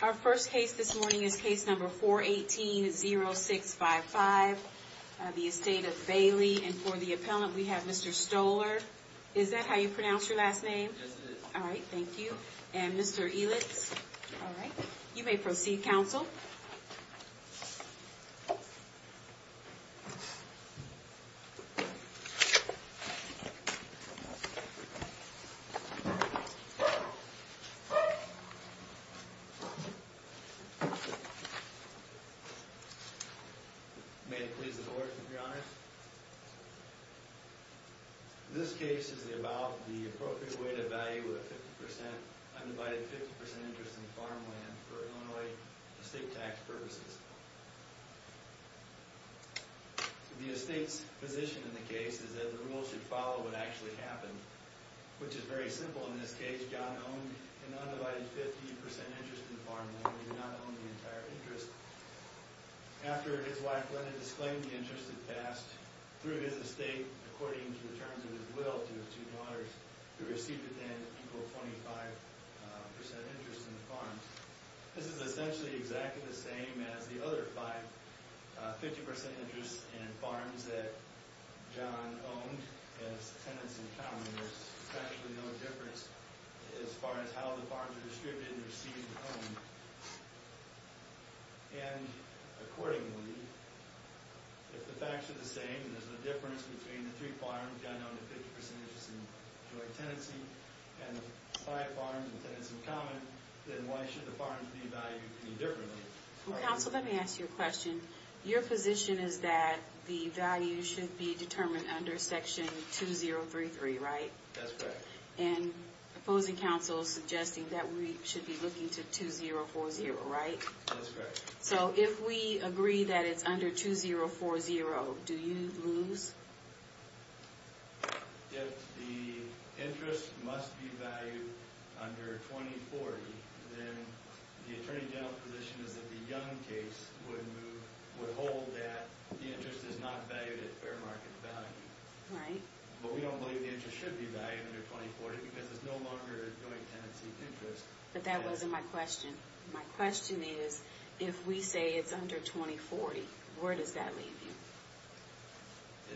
Our first case this morning is case number 418-0655. The Estate of Baillie and for the appellant we have Mr. Stoller. Is that how you pronounce your last name? All right, thank you. And Mr. Elitz. You may proceed counsel. May it please the court, your honor. This case is about the appropriate way to value a 50% undivided 50% interest in farmland for Illinois estate tax purposes. The estate's position in the case is that the rule should follow what actually happened, which is very simple. In this case, John owned an undivided 50% interest in farmland. He did not own the entire interest. After his wife, Linda, disclaimed the interest that passed through his estate according to the terms of his will to his two daughters, he received at the end equal 25% interest in the farm. This is essentially exactly the same as the other five 50% interests in farms that John owned as tenants-in-common. There's actually no difference as far as how the farms are distributed and received and owned. And, accordingly, if the facts are the same and there's a difference between the three farms John owned at 50% interest in joint tenancy and the five farms and tenants-in-common, then why should the farms be valued any differently? Counsel, let me ask you a question. Your position is that the value should be determined under Section 2033, right? That's correct. And opposing counsel is suggesting that we should be looking to 2040, right? That's correct. So, if we agree that it's under 2040, do you lose? If the interest must be valued under 2040, then the Attorney General's position is that the Young case would hold that the interest is not valued at fair market value. Right. But we don't believe the interest should be valued under 2040 because it's no longer a joint tenancy interest. But that wasn't my question. My question is, if we say it's under 2040, where does that leave you?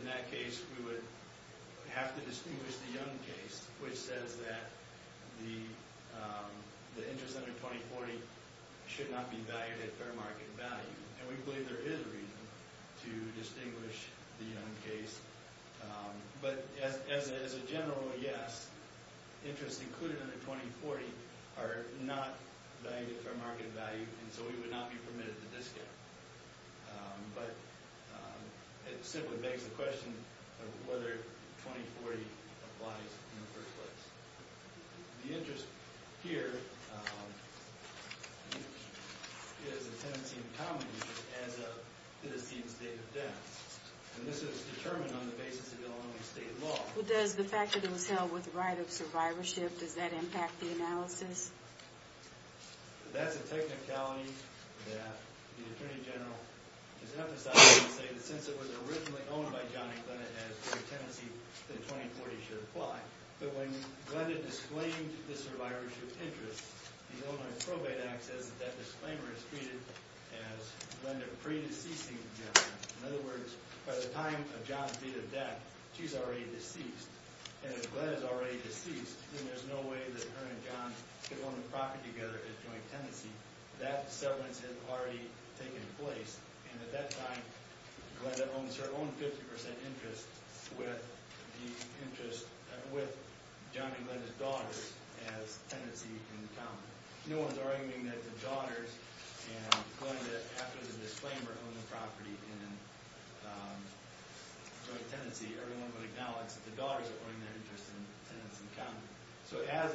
In that case, we would have to distinguish the Young case, which says that the interest under 2040 should not be valued at fair market value. And we believe there is a reason to distinguish the Young case. But, as a general yes, interests included under 2040 are not valued at fair market value, and so we would not be permitted the discount. But, it simply begs the question of whether 2040 applies in the first place. The interest here is a tenancy in common use as a tenancy in state of debt. And this is determined on the basis of Illinois state law. Does the fact that it was held with the right of survivorship, does that impact the analysis? That's a technicality that the Attorney General is emphasizing to say that since it was originally owned by John and Glenda as a tenancy, that 2040 should apply. But when Glenda disclaimed the survivorship interest, the Illinois Probate Act says that that disclaimer is treated as Glenda predeceasing John. In other words, by the time of John's deed of debt, she's already deceased. And if Glenda's already deceased, then there's no way that her and John could own the property together as joint tenancy. That severance has already taken place. And at that time, Glenda owns her own 50% interest with John and Glenda's daughters as tenancy in common. No one's arguing that the daughters and Glenda, after the disclaimer, own the property in joint tenancy. Everyone would acknowledge that the daughters are owning their interest in tenancy in common. So as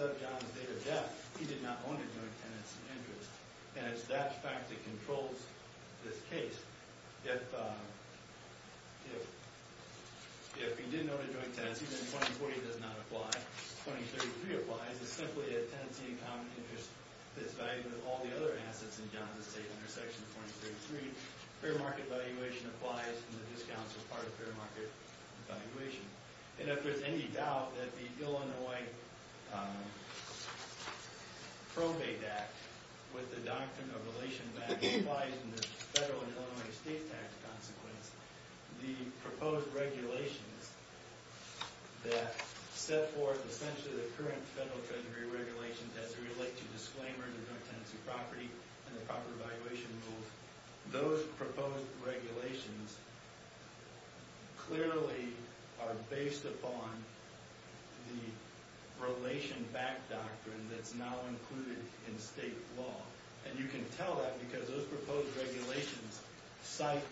of John's deed of debt, he did not own a joint tenancy in interest. And it's that fact that controls this case. If he did own a joint tenancy, then 2040 does not apply. 2033 applies. It's simply a tenancy in common interest that's valued with all the other assets in John's estate under Section 2033. Fair market valuation applies, and the discounts are part of fair market valuation. And if there's any doubt that the Illinois Probate Act, with the doctrine of relation back, applies in the federal and Illinois estate tax consequence, the proposed regulations that set forth essentially the current federal treasury regulations as they relate to disclaimers of joint tenancy property and the property valuation rules, those proposed regulations clearly are based upon the relation back doctrine that's now included in state law. And you can tell that because those proposed regulations cite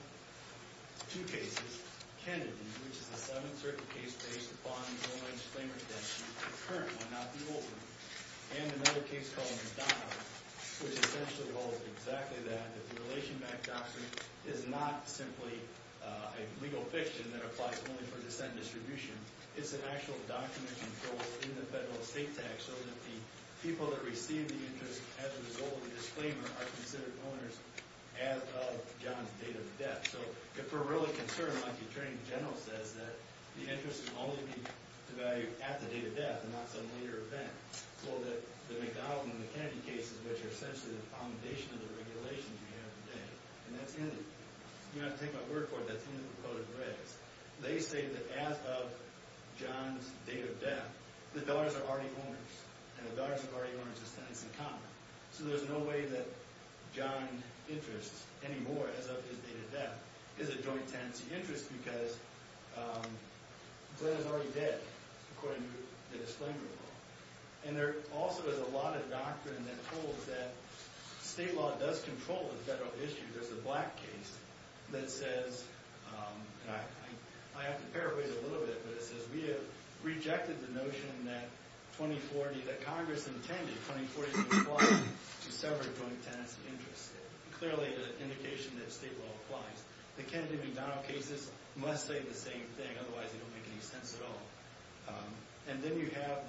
two cases. Kennedy, which is the seventh certain case based upon the Illinois disclaimer statute, the current one, not the old one. And another case called McDonald, which essentially holds exactly that. The relation back doctrine is not simply a legal fiction that applies only for descent distribution. It's an actual doctrine that controls in the federal estate tax so that the people that receive the interest as a result of the disclaimer are considered owners as of John's date of death. So if we're really concerned, like the attorney general says, that the interest can only be devalued at the date of death and not some later event. Well, the McDonald and the Kennedy cases, which are essentially the foundation of the regulations we have today. And that's the end of it. You don't have to take my word for it. That's the end of the proposed regs. They say that as of John's date of death, the dollars are already owners. And the dollars are already owners as tenants in common. So there's no way that John interests anymore as of his date of death is a joint tenancy interest because Glenn is already dead, according to the disclaimer law. And there also is a lot of doctrine that holds that state law does control the federal issue. There's a black case that says I have to paraphrase a little bit, but it says we have rejected the notion that 2040, that Congress intended 2040 to sever a joint tenancy interest. Clearly, the indication that state law applies. The Kennedy McDonald cases must say the same thing. Otherwise, they don't make any sense at all. And then you have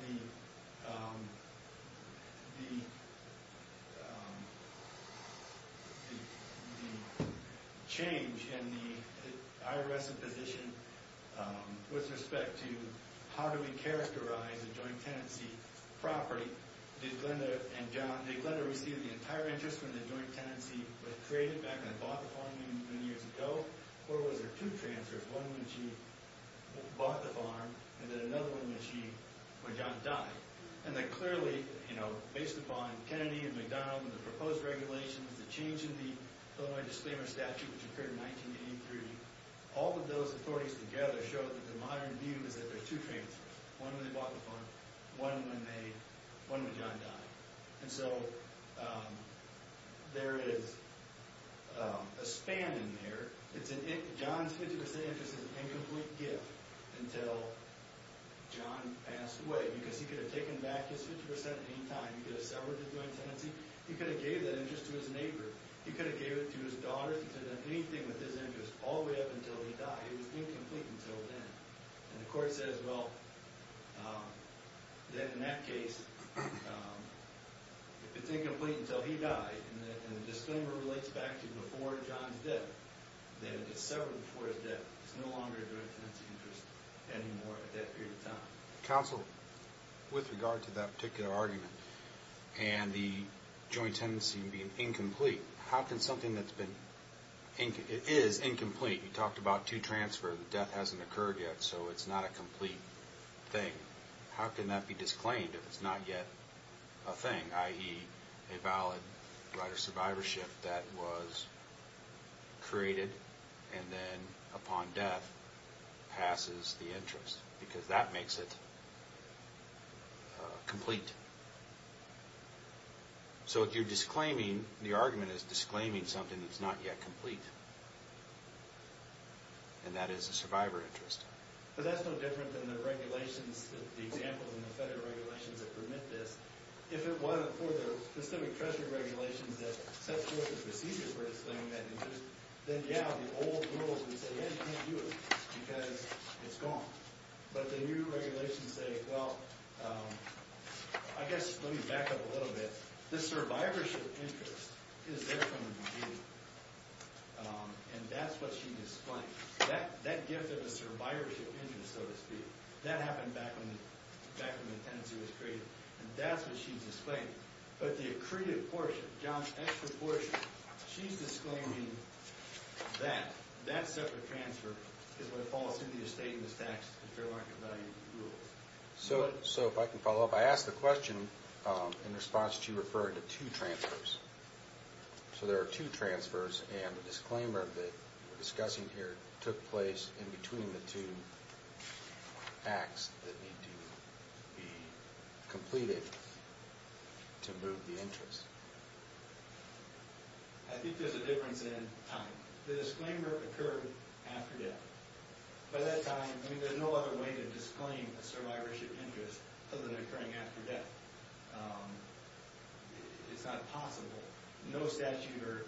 the change in the IRS's position with respect to how do we characterize a joint tenancy property. Did Glenda receive the entire interest from the joint tenancy that was created back when they bought the farm many, many years ago? Or was there two transfers, one when she bought the farm and then another one when John died? And then clearly, based upon Kennedy and McDonald and the proposed regulations, the change in the Illinois disclaimer statute, which occurred in 1983, all of those authorities together show that the modern view is that there are two transfers, one when they bought the farm, one when John died. And so there is a span in there. John's 50% interest is an incomplete gift until John passed away because he could have taken back his 50% at any time. He could have severed the joint tenancy. He could have gave that interest to his neighbor. He could have gave it to his daughters. He could have done anything with his interest all the way up until he died. It was incomplete until then. And the court says, well, then in that case, if it's incomplete until he died, and the disclaimer relates back to before John's death, then it gets severed before his death. It's no longer a joint tenancy interest anymore at that period of time. Counsel, with regard to that particular argument and the joint tenancy being incomplete, how can something that is incomplete, you talked about two transfers, the death hasn't occurred yet, so it's not a complete thing, how can that be disclaimed if it's not yet a thing, i.e. a valid right of survivorship that was created and then upon death passes the interest? Because that makes it complete. So if you're disclaiming, the argument is disclaiming something that's not yet complete, and that is a survivor interest. But that's no different than the regulations, the examples in the federal regulations that permit this. If it wasn't for the specific treasury regulations that set forth the procedures for disclaiming that interest, then, yeah, the old rules would say, yeah, you can't do it because it's gone. But the new regulations say, well, I guess let me back up a little bit. The survivorship interest is there from the beginning, and that's what she's disclaiming. That gift of a survivorship interest, so to speak, that happened back when the tenancy was created, and that's what she's disclaiming. But the accreted portion, John's extra portion, she's disclaiming that. That separate transfer is what falls into your statements tax and fair market value rules. So if I can follow up, I asked the question in response to you referring to two transfers. So there are two transfers, and the disclaimer that we're discussing here took place in between the two acts that need to be completed to move the interest. I think there's a difference in time. The disclaimer occurred after death. By that time, I mean, there's no other way to disclaim a survivorship interest other than occurring after death. It's not possible. No statute or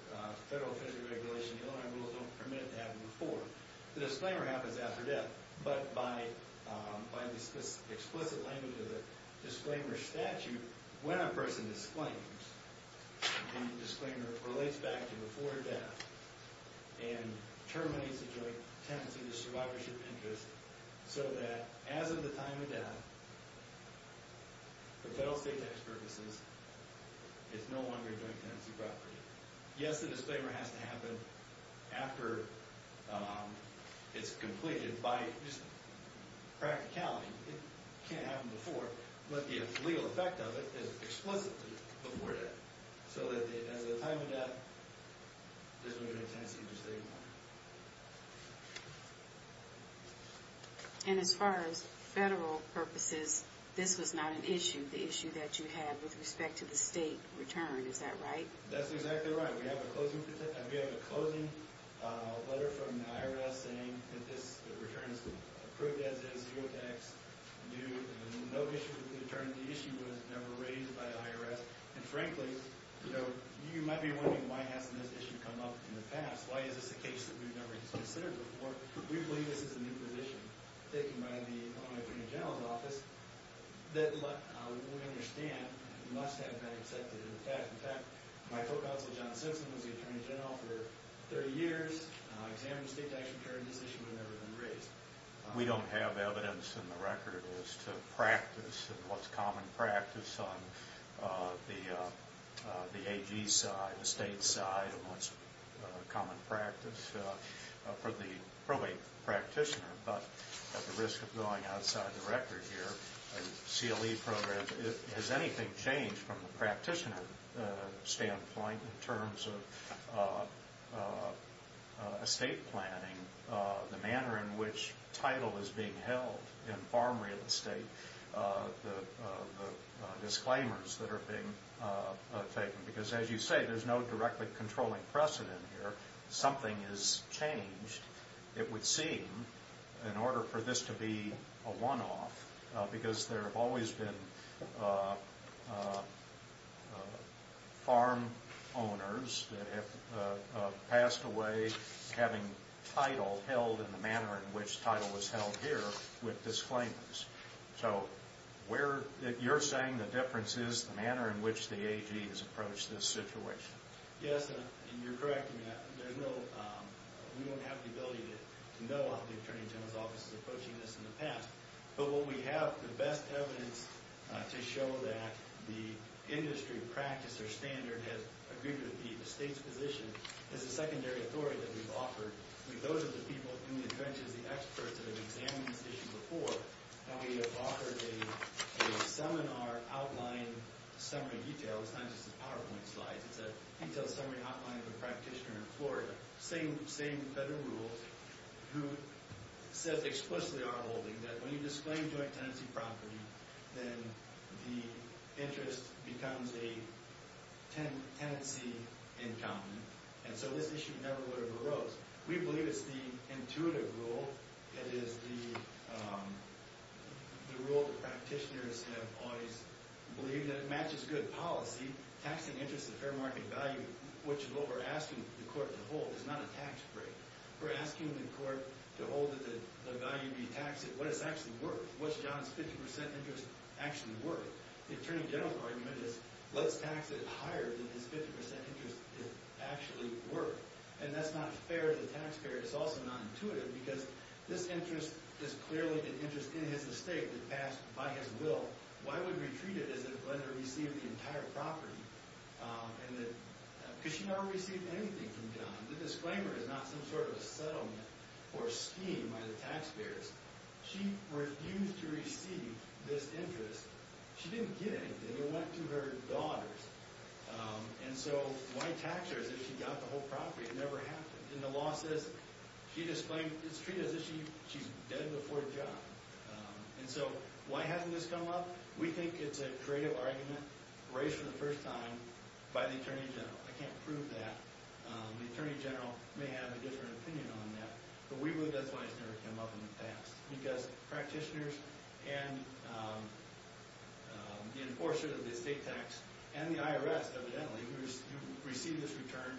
federal official regulation, Illinois rules don't permit that before. The disclaimer happens after death, but by this explicit language of the disclaimer statute, when a person disclaims, the disclaimer relates back to before death and terminates the joint tenancy to survivorship interest so that as of the time of death, for federal state tax purposes, it's no longer a joint tenancy property. Yes, the disclaimer has to happen after it's completed. By practicality, it can't happen before, but the legal effect of it is explicitly before death. So as of the time of death, this would be a tenancy to disclaim. And as far as federal purposes, this was not an issue, the issue that you had with respect to the state return. Is that right? That's exactly right. We have a closing letter from the IRS saying that this return is approved as is, zero tax, no issue with the attorney. The issue was never raised by the IRS. And frankly, you might be wondering why hasn't this issue come up in the past? Why is this a case that we've never considered before? We believe this is a new position taken by the Illinois Attorney General's Office that we understand must have been accepted. In fact, my co-counsel John Simpson was the attorney general for 30 years, examined the state tax return, and this issue had never been raised. We don't have evidence in the record as to practice and what's common practice on the AG side, the state side, and what's common practice for the probate practitioner. But at the risk of going outside the record here, CLE programs, has anything changed from the practitioner standpoint in terms of estate planning, the manner in which title is being held in farm real estate, the disclaimers that are being taken? Because as you say, there's no directly controlling precedent here. If something is changed, it would seem, in order for this to be a one-off, because there have always been farm owners that have passed away having title held in the manner in which title was held here with disclaimers. So you're saying the difference is the manner in which the AG has approached this situation? Yes, and you're correct. We don't have the ability to know how the attorney general's office is approaching this in the past. But what we have, the best evidence to show that the industry practice or standard has agreed with the state's position, is the secondary authority that we've offered. Those are the people in the trenches, the experts that have examined this issue before. Now, we have offered a seminar outline summary detail. It's not just the PowerPoint slides. It's a detailed summary outline of a practitioner in Florida, same federal rules, who says explicitly on our holding that when you disclaim joint tenancy property, then the interest becomes a tenancy income. And so this issue never would have arose. We believe it's the intuitive rule. It is the rule that practitioners have always believed. It matches good policy. Taxing interest at fair market value, which is what we're asking the court to hold, is not a tax break. We're asking the court to hold the value to be taxed at what it's actually worth, what's John's 50% interest actually worth. The attorney general's argument is let's tax it higher than his 50% interest is actually worth. And that's not fair to the taxpayer. It's also not intuitive because this interest is clearly an interest in his estate that passed by his will. Why would we treat it as if Lender received the entire property? Because she never received anything from John. The disclaimer is not some sort of a settlement or scheme by the taxpayers. She refused to receive this interest. She didn't get anything. It went to her daughters. And so why tax her as if she got the whole property? It never happened. And the law says she displayed, it's treated as if she's dead before John. And so why hasn't this come up? We think it's a creative argument raised for the first time by the attorney general. I can't prove that. The attorney general may have a different opinion on that. But we believe that's why it's never come up in the past. Because practitioners and the enforcer of the estate tax and the IRS, evidently, who received this return,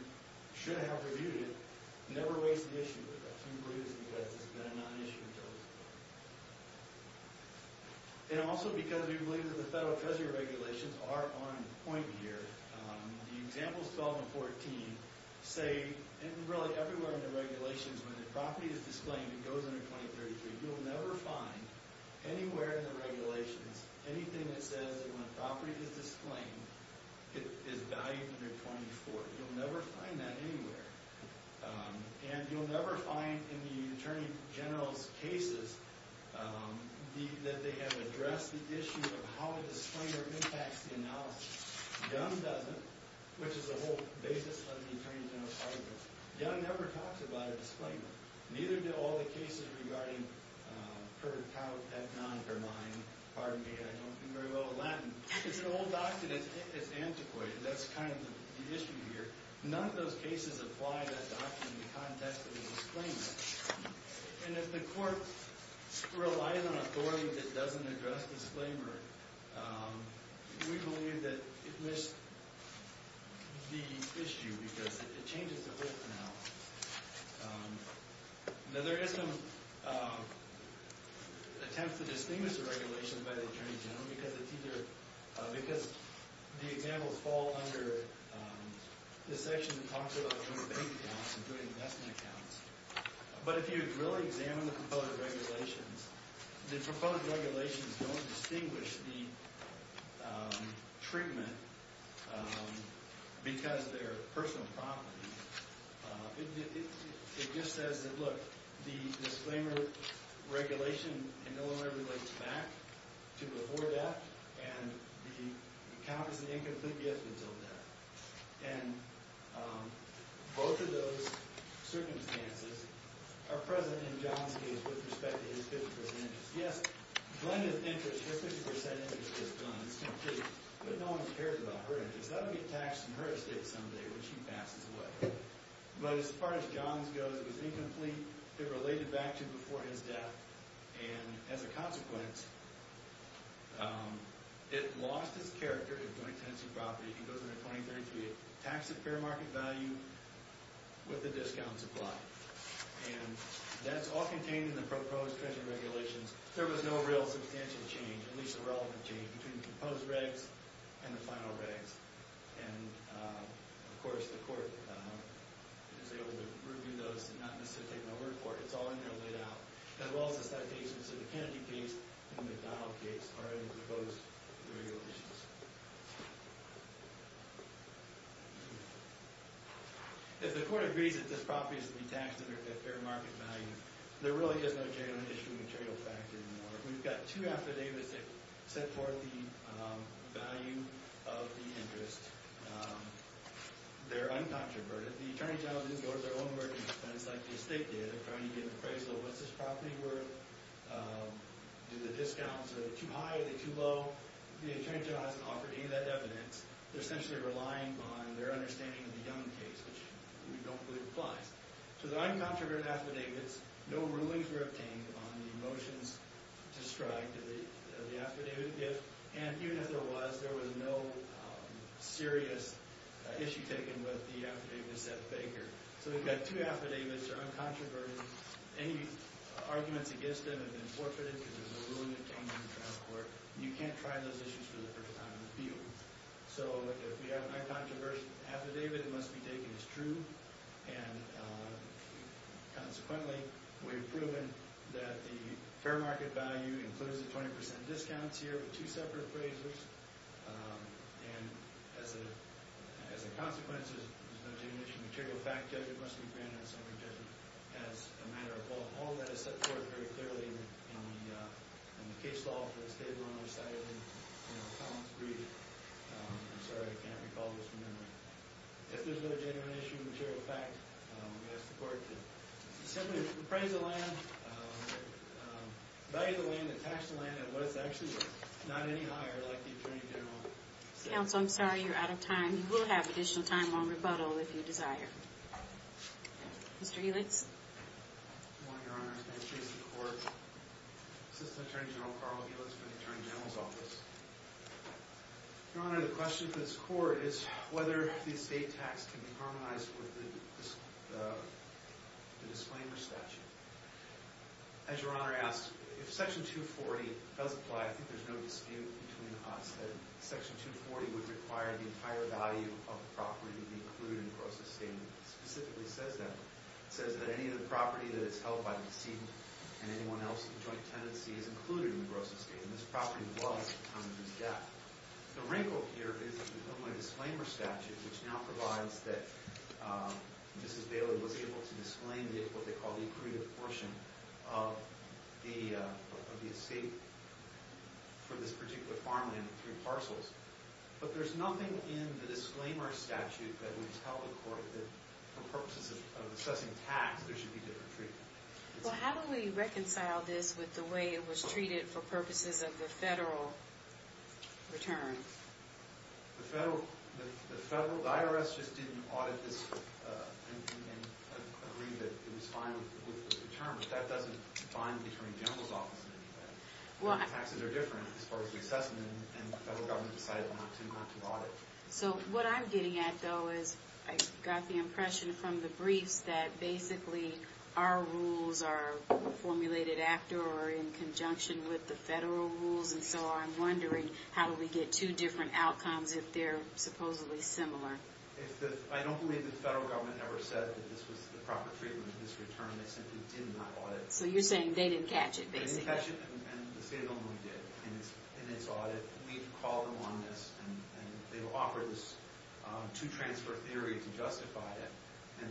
should have reviewed it, never raised the issue with us. We believe this because it's been a non-issue until this point. And also because we believe that the federal treasury regulations are on point here. The examples 12 and 14 say, and really everywhere in the regulations, when the property is disclaimed, it goes under 2033. You'll never find anywhere in the regulations anything that says that when a property is disclaimed, it is valued under 2040. You'll never find that anywhere. And you'll never find in the attorney general's cases that they have addressed the issue of how a disclaimer impacts the analysis. Young doesn't, which is the whole basis of the attorney general's argument. Young never talks about a disclaimer. Neither do all the cases regarding per caud et non, or mine. Pardon me, I don't do very well in Latin. It's an old doctrine that's antiquated. That's kind of the issue here. None of those cases apply that doctrine in the context of a disclaimer. And if the court relies on authority that doesn't address disclaimer, we believe that it missed the issue because it changes the whole analysis. Now, there is some attempt to distinguish the regulation by the attorney general because it's either – because the examples fall under the section that talks about doing bank accounts and doing investment accounts. But if you really examine the proposed regulations, the proposed regulations don't distinguish the treatment because they're personal property. It just says that, look, the disclaimer regulation no longer relates back to before death, and the account is an incomplete gift until death. And both of those circumstances are present in John's case with respect to his 50% interest. Yes, Glenn is an interest. His 50% interest is Glenn. It's complete. But no one cares about her interest. That will get taxed in her estate someday when she passes away. But as far as John's goes, it was incomplete. It related back to before his death. And as a consequence, it lost its character in joint tenancy property. It goes into 2033 taxed at fair market value with a discount supply. And that's all contained in the proposed treasury regulations. There was no real substantial change, at least a relevant change, between the proposed regs and the final regs. And, of course, the court is able to review those and not necessarily take no word for it. It's all in there laid out, as well as the citations of the Kennedy case and the McDonald case are in the proposed regulations. If the court agrees that this property is to be taxed at fair market value, there really is no genuine issue material factor anymore. We've got two affidavits that set forth the value of the interest. They're uncontroverted. But the attorney general didn't go to their own merger expense like the estate did. They're trying to get an appraisal of what's this property worth. Do the discounts, are they too high, are they too low? The attorney general hasn't offered any of that evidence. They're essentially relying on their understanding of the Young case, which we don't believe applies. So the uncontroverted affidavits, no rulings were obtained on the motions to strike of the affidavit gift. And even if there was, there was no serious issue taken with the affidavit of Seth Baker. So we've got two affidavits that are uncontroverted. Any arguments against them have been forfeited because there's no ruling obtained in the transport. You can't try those issues for the first time in the field. So if we have an uncontroversial affidavit, it must be taken as true. And consequently, we've proven that the fair market value includes the 20% discounts here with two separate appraisers. And as a consequence, there's no genuine issue material. The fact judge, it must be granted as a matter of law. All that is set forth very clearly in the case law for the State of Illinois, cited in Collins' brief. I'm sorry, I can't recall this from memory. If there's no genuine issue material, in fact, we ask the court to simply appraise the land, value the land, and tax the land at what it's actually worth. Not any higher, like the Attorney General said. Counsel, I'm sorry, you're out of time. You will have additional time on rebuttal if you desire. Mr. Helix. Good morning, Your Honor. Ben Chase, the court. Assistant Attorney General Carl Helix for the Attorney General's Office. Your Honor, the question to this court is whether the estate tax can be harmonized with the disclaimer statute. As Your Honor asked, if Section 240 does apply, I think there's no dispute between us that Section 240 would require the entire value of the property to be included in the gross estate. It specifically says that. It says that any of the property that is held by the decedent and anyone else in joint tenancy is included in the gross estate. And this property was under this gap. The wrinkle here is in the disclaimer statute, which now provides that Mrs. Bailey was able to disclaim what they call the accrued portion of the estate for this particular farmland in three parcels. But there's nothing in the disclaimer statute that would tell the court that for purposes of assessing tax, there should be different treatment. Well, how do we reconcile this with the way it was treated for purposes of the federal return? The IRS just didn't audit this and agree that it was fine with the return, but that doesn't define the Attorney General's Office in any way. Taxes are different as far as we assess them, and the federal government decided not to audit. So what I'm getting at, though, is I got the impression from the briefs that basically our rules are formulated after or in conjunction with the federal rules, and so I'm wondering how do we get two different outcomes if they're supposedly similar? I don't believe the federal government ever said that this was the proper treatment for this return. They simply did not audit. So you're saying they didn't catch it, basically. They didn't catch it, and the state only did in its audit. We've called them on this, and they've offered this two-transfer theory to justify it, and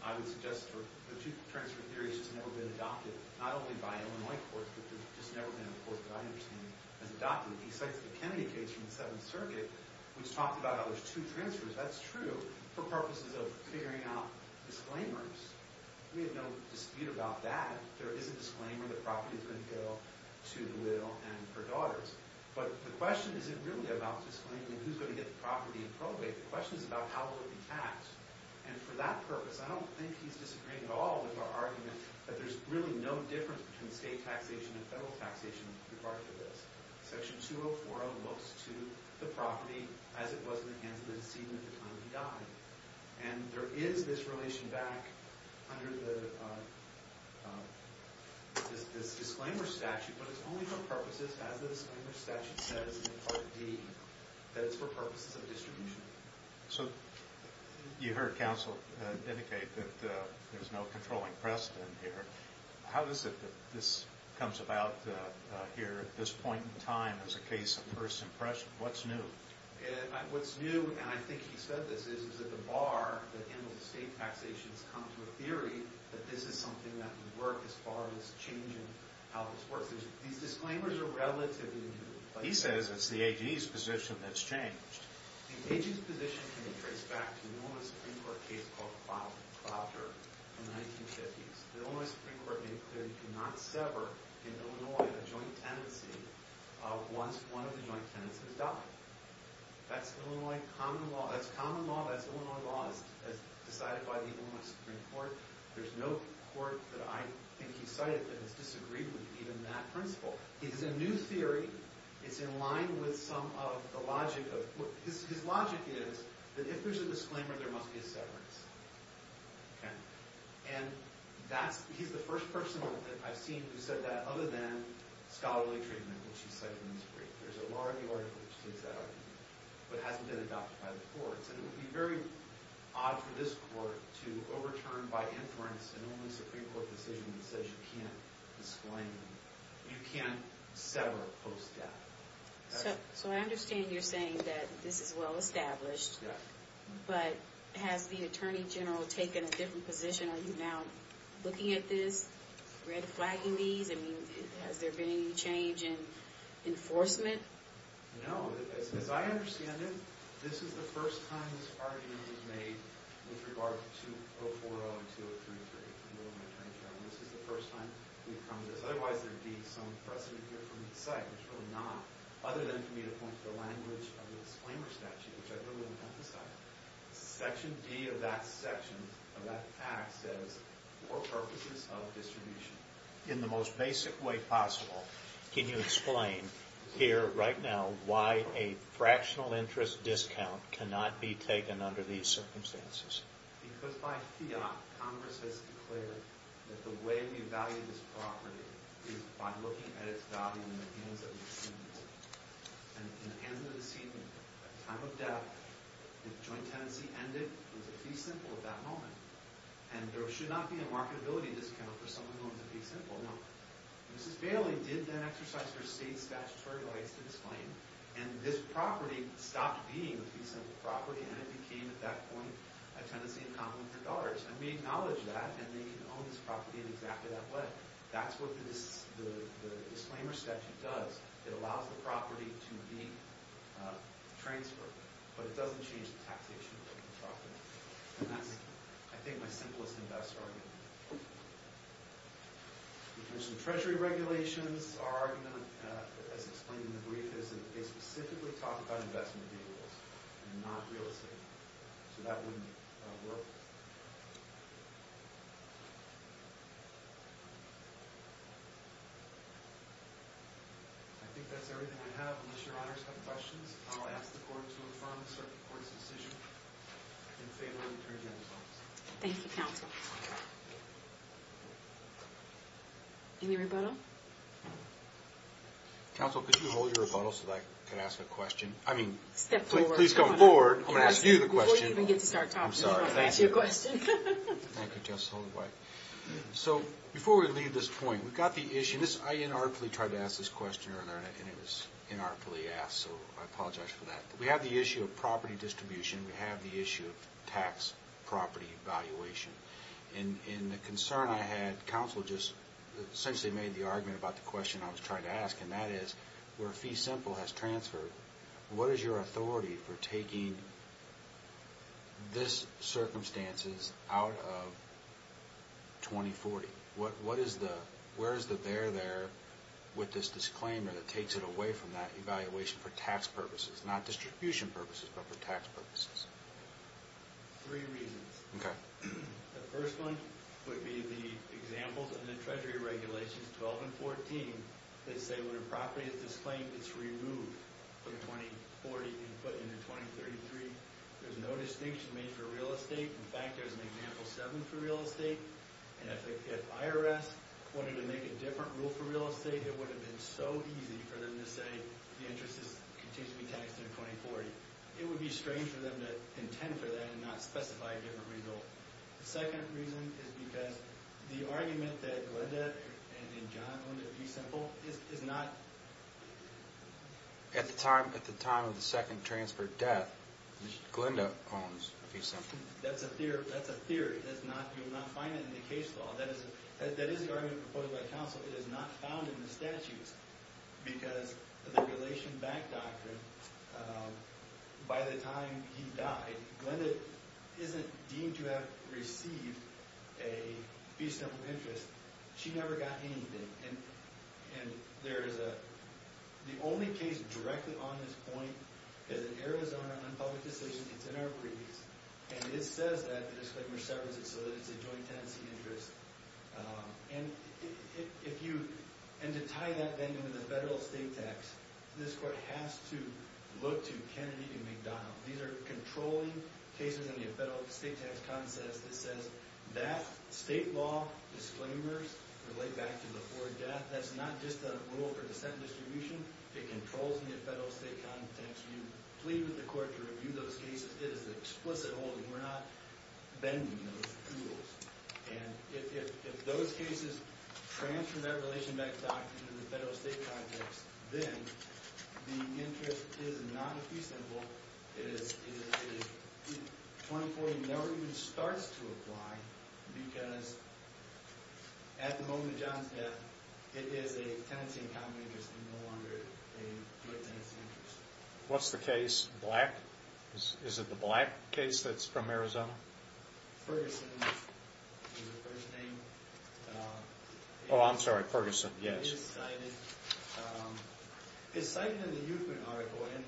I would suggest the two-transfer theory should have never been adopted, not only by Illinois courts, but just never been a court that I understand has adopted it. He cites the Kennedy case from the Seventh Circuit, which talked about how there's two transfers. That's true for purposes of figuring out disclaimers. We have no dispute about that. There is a disclaimer. The property is going to go to the widow and her daughters, but the question isn't really about disclaiming who's going to get the property and probate. The question is about how will it be taxed, and for that purpose, I don't think he's disagreeing at all with our argument that there's really no difference between state taxation and federal taxation with regard to this. Section 2040 looks to the property as it was in the hands of the decedent at the time he died, and there is this relation back under this disclaimer statute, but it's only for purposes, as the disclaimer statute says in Part D, that it's for purposes of distribution. So you heard counsel indicate that there's no controlling precedent here. How is it that this comes about here at this point in time as a case of first impression? What's new? What's new, and I think he said this, is that the bar that handles the state taxation has come to a theory that this is something that would work as far as changing how this works. These disclaimers are relatively new. He says it's the AG's position that's changed. The AG's position can be traced back to an Illinois Supreme Court case called Clouder in the 1950s. The Illinois Supreme Court made clear it could not sever in Illinois a joint tenancy once one of the joint tenants has died. That's Illinois common law. That's common law. That's Illinois law as decided by the Illinois Supreme Court. There's no court that I think he cited that has disagreed with even that principle. It is a new theory. It's in line with some of the logic of – his logic is that if there's a disclaimer, there must be a severance, okay? And that's – he's the first person that I've seen who said that other than scholarly treatment, which he cited in his brief. There's a law review article which states that argument, but it hasn't been adopted by the courts. And it would be very odd for this court to overturn by inference an Illinois Supreme Court decision that says you can't disclaim, you can't sever post-death. So I understand you're saying that this is well established, but has the attorney general taken a different position? Are you now looking at this, red-flagging these? I mean, has there been any change in enforcement? No. As I understand it, this is the first time this argument was made with regard to 2040 and 2033. This is the first time we've come to this. Otherwise, there would be some precedent here for me to cite, which we're not, other than for me to point to the language of the disclaimer statute, which I don't want to emphasize. Section D of that section of that act says, for purposes of distribution. In the most basic way possible, can you explain here right now why a fractional interest discount cannot be taken under these circumstances? Because by fiat, Congress has declared that the way we value this property is by looking at its value in the hands of the Supreme Court. In the hands of the deceitful, time of death, if joint tenancy ended, it was a fee simple at that moment. And there should not be a marketability discount for someone who owns a fee simple, no. Mrs. Bailey did then exercise her state statutory rights to disclaim, and this property stopped being a fee simple property, and it became, at that point, a tenancy in common with her daughter's. And we acknowledge that, and they can own this property in exactly that way. That's what the disclaimer statute does. It allows the property to be transferred, but it doesn't change the taxation of the property. And that's, I think, my simplest investor argument. We've mentioned treasury regulations. Our argument, as explained in the brief, is that they specifically talk about investment vehicles, and not real estate. So that wouldn't work. I think that's everything we have. Unless your honors have questions, I'll ask the court to confirm the circuit court's decision. And if they don't, we'll turn you in to the police. Thank you, counsel. Any rebuttal? Counsel, could you hold your rebuttal so that I can ask a question? I mean, please come forward. I'm going to ask you the question. Before you even get to start talking, I'm going to ask you a question. Thank you, Justice Holdenwhite. So, before we leave this point, we've got the issue. I inarticulately tried to ask this question earlier, and it was inarticulately asked, so I apologize for that. We have the issue of property distribution. We have the issue of tax property valuation. And the concern I had, counsel just essentially made the argument about the question I was trying to ask, and that is, where fee simple has transferred, what is your authority for taking this circumstances out of 2040? Where is the bear there with this disclaimer that takes it away from that evaluation for tax purposes, not distribution purposes, but for tax purposes? Three reasons. Okay. The first one would be the examples of the Treasury regulations 12 and 14 that say when a property is disclaimed, it's removed from 2040 and put into 2033. There's no distinction made for real estate. In fact, there's an example 7 for real estate. And if IRS wanted to make a different rule for real estate, it would have been so easy for them to say the interest continues to be taxed in 2040. It would be strange for them to intend for that and not specify a different result. The second reason is because the argument that Glenda and John owned a fee simple is not... At the time of the second transfer death, Glenda owns a fee simple. That's a theory. You will not find it in the case law. That is the argument proposed by counsel. It is not found in the statutes. Because of the relation back doctrine, by the time he died, Glenda isn't deemed to have received a fee simple interest. She never got anything. And there is a... The case directly on this point is an Arizona non-public decision. It's in our briefs. And it says that the disclaimer severs it so that it's a joint tenancy interest. And to tie that, then, into the federal state tax, this court has to look to Kennedy and McDonald. These are controlling cases in the federal state tax concept. It says that state law disclaimers relate back to before death. That's not just a rule for dissent distribution. It controls in the federal state context. You plead with the court to review those cases. It is an explicit holding. We're not bending those rules. And if those cases transfer that relation back doctrine to the federal state context, then the interest is not a fee simple. It is a... 2040 never even starts to apply because, at the moment of John's death, it is a tenancy in common interest and no longer a joint tenancy interest. What's the case? Black? Is it the Black case that's from Arizona? Ferguson is the first name. Oh, I'm sorry. Ferguson, yes. It is cited. It's cited in the youthment article. And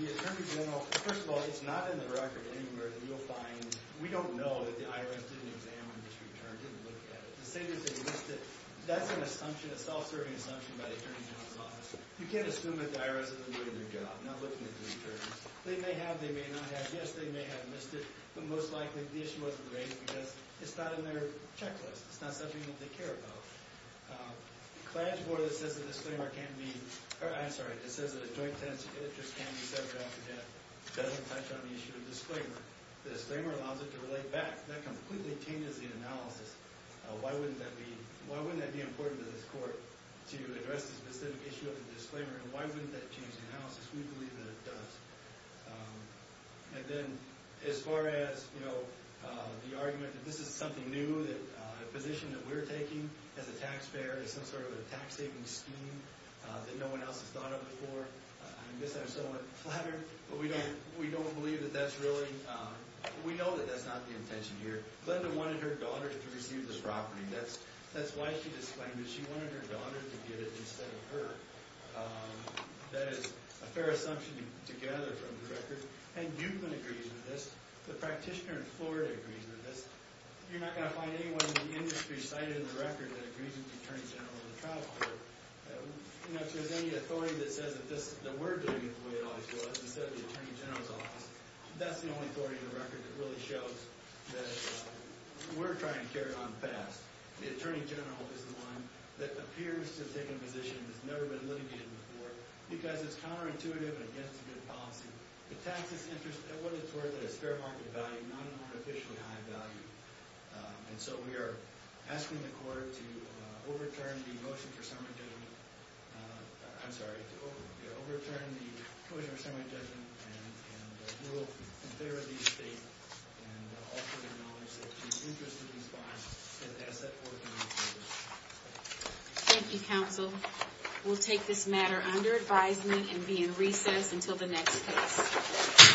the attorney general... First of all, it's not in the record anywhere that you'll find... We don't know that the IRS didn't examine this return, didn't look at it. To say that they missed it, that's an assumption, a self-serving assumption by the attorney general's office. You can't assume that the IRS isn't doing their job, not looking at the returns. They may have. They may not have. Yes, they may have missed it. But, most likely, the issue wasn't raised because it's not in their checklist. It's not something that they care about. The client's board that says the disclaimer can't be... I'm sorry. It says that a joint tenancy interest can't be severed after death. It doesn't touch on the issue of disclaimer. The disclaimer allows it to relate back. That completely changes the analysis. Why wouldn't that be... Why wouldn't that be important to this court to address the specific issue of the disclaimer? And why wouldn't that change the analysis? We believe that it does. And then, as far as, you know, the argument that this is something new... That the position that we're taking as a taxpayer is some sort of a tax-saving scheme... That no one else has thought of before. I guess I'm somewhat flattered, but we don't believe that that's really... We know that that's not the intention here. Glenda wanted her daughter to receive this property. That's why she disclaimed it. She wanted her daughter to get it, instead of her. That is a fair assumption to gather from the record. And Dukeman agrees with this. The practitioner in Florida agrees with this. You're not going to find anyone in the industry, cited in the record, that agrees with the Attorney General of the Trial Court. You know, if there's any authority that says that we're doing it the way it always was... Instead of the Attorney General's office. That's the only authority in the record that really shows that we're trying to carry it on fast. The Attorney General is the one that appears to have taken a position that's never been litigated before... Because it's counterintuitive and against a good policy. The taxes interest... It wasn't toward a fair market value. Not an artificially high value. And so, we are asking the court to overturn the motion for summary judgment. I'm sorry. To overturn the motion for summary judgment. And, we will consider these states. And, also acknowledge that the interest of these bodies is an asset for the community. Thank you, Counsel. We'll take this matter under advisement and be in recess until the next case.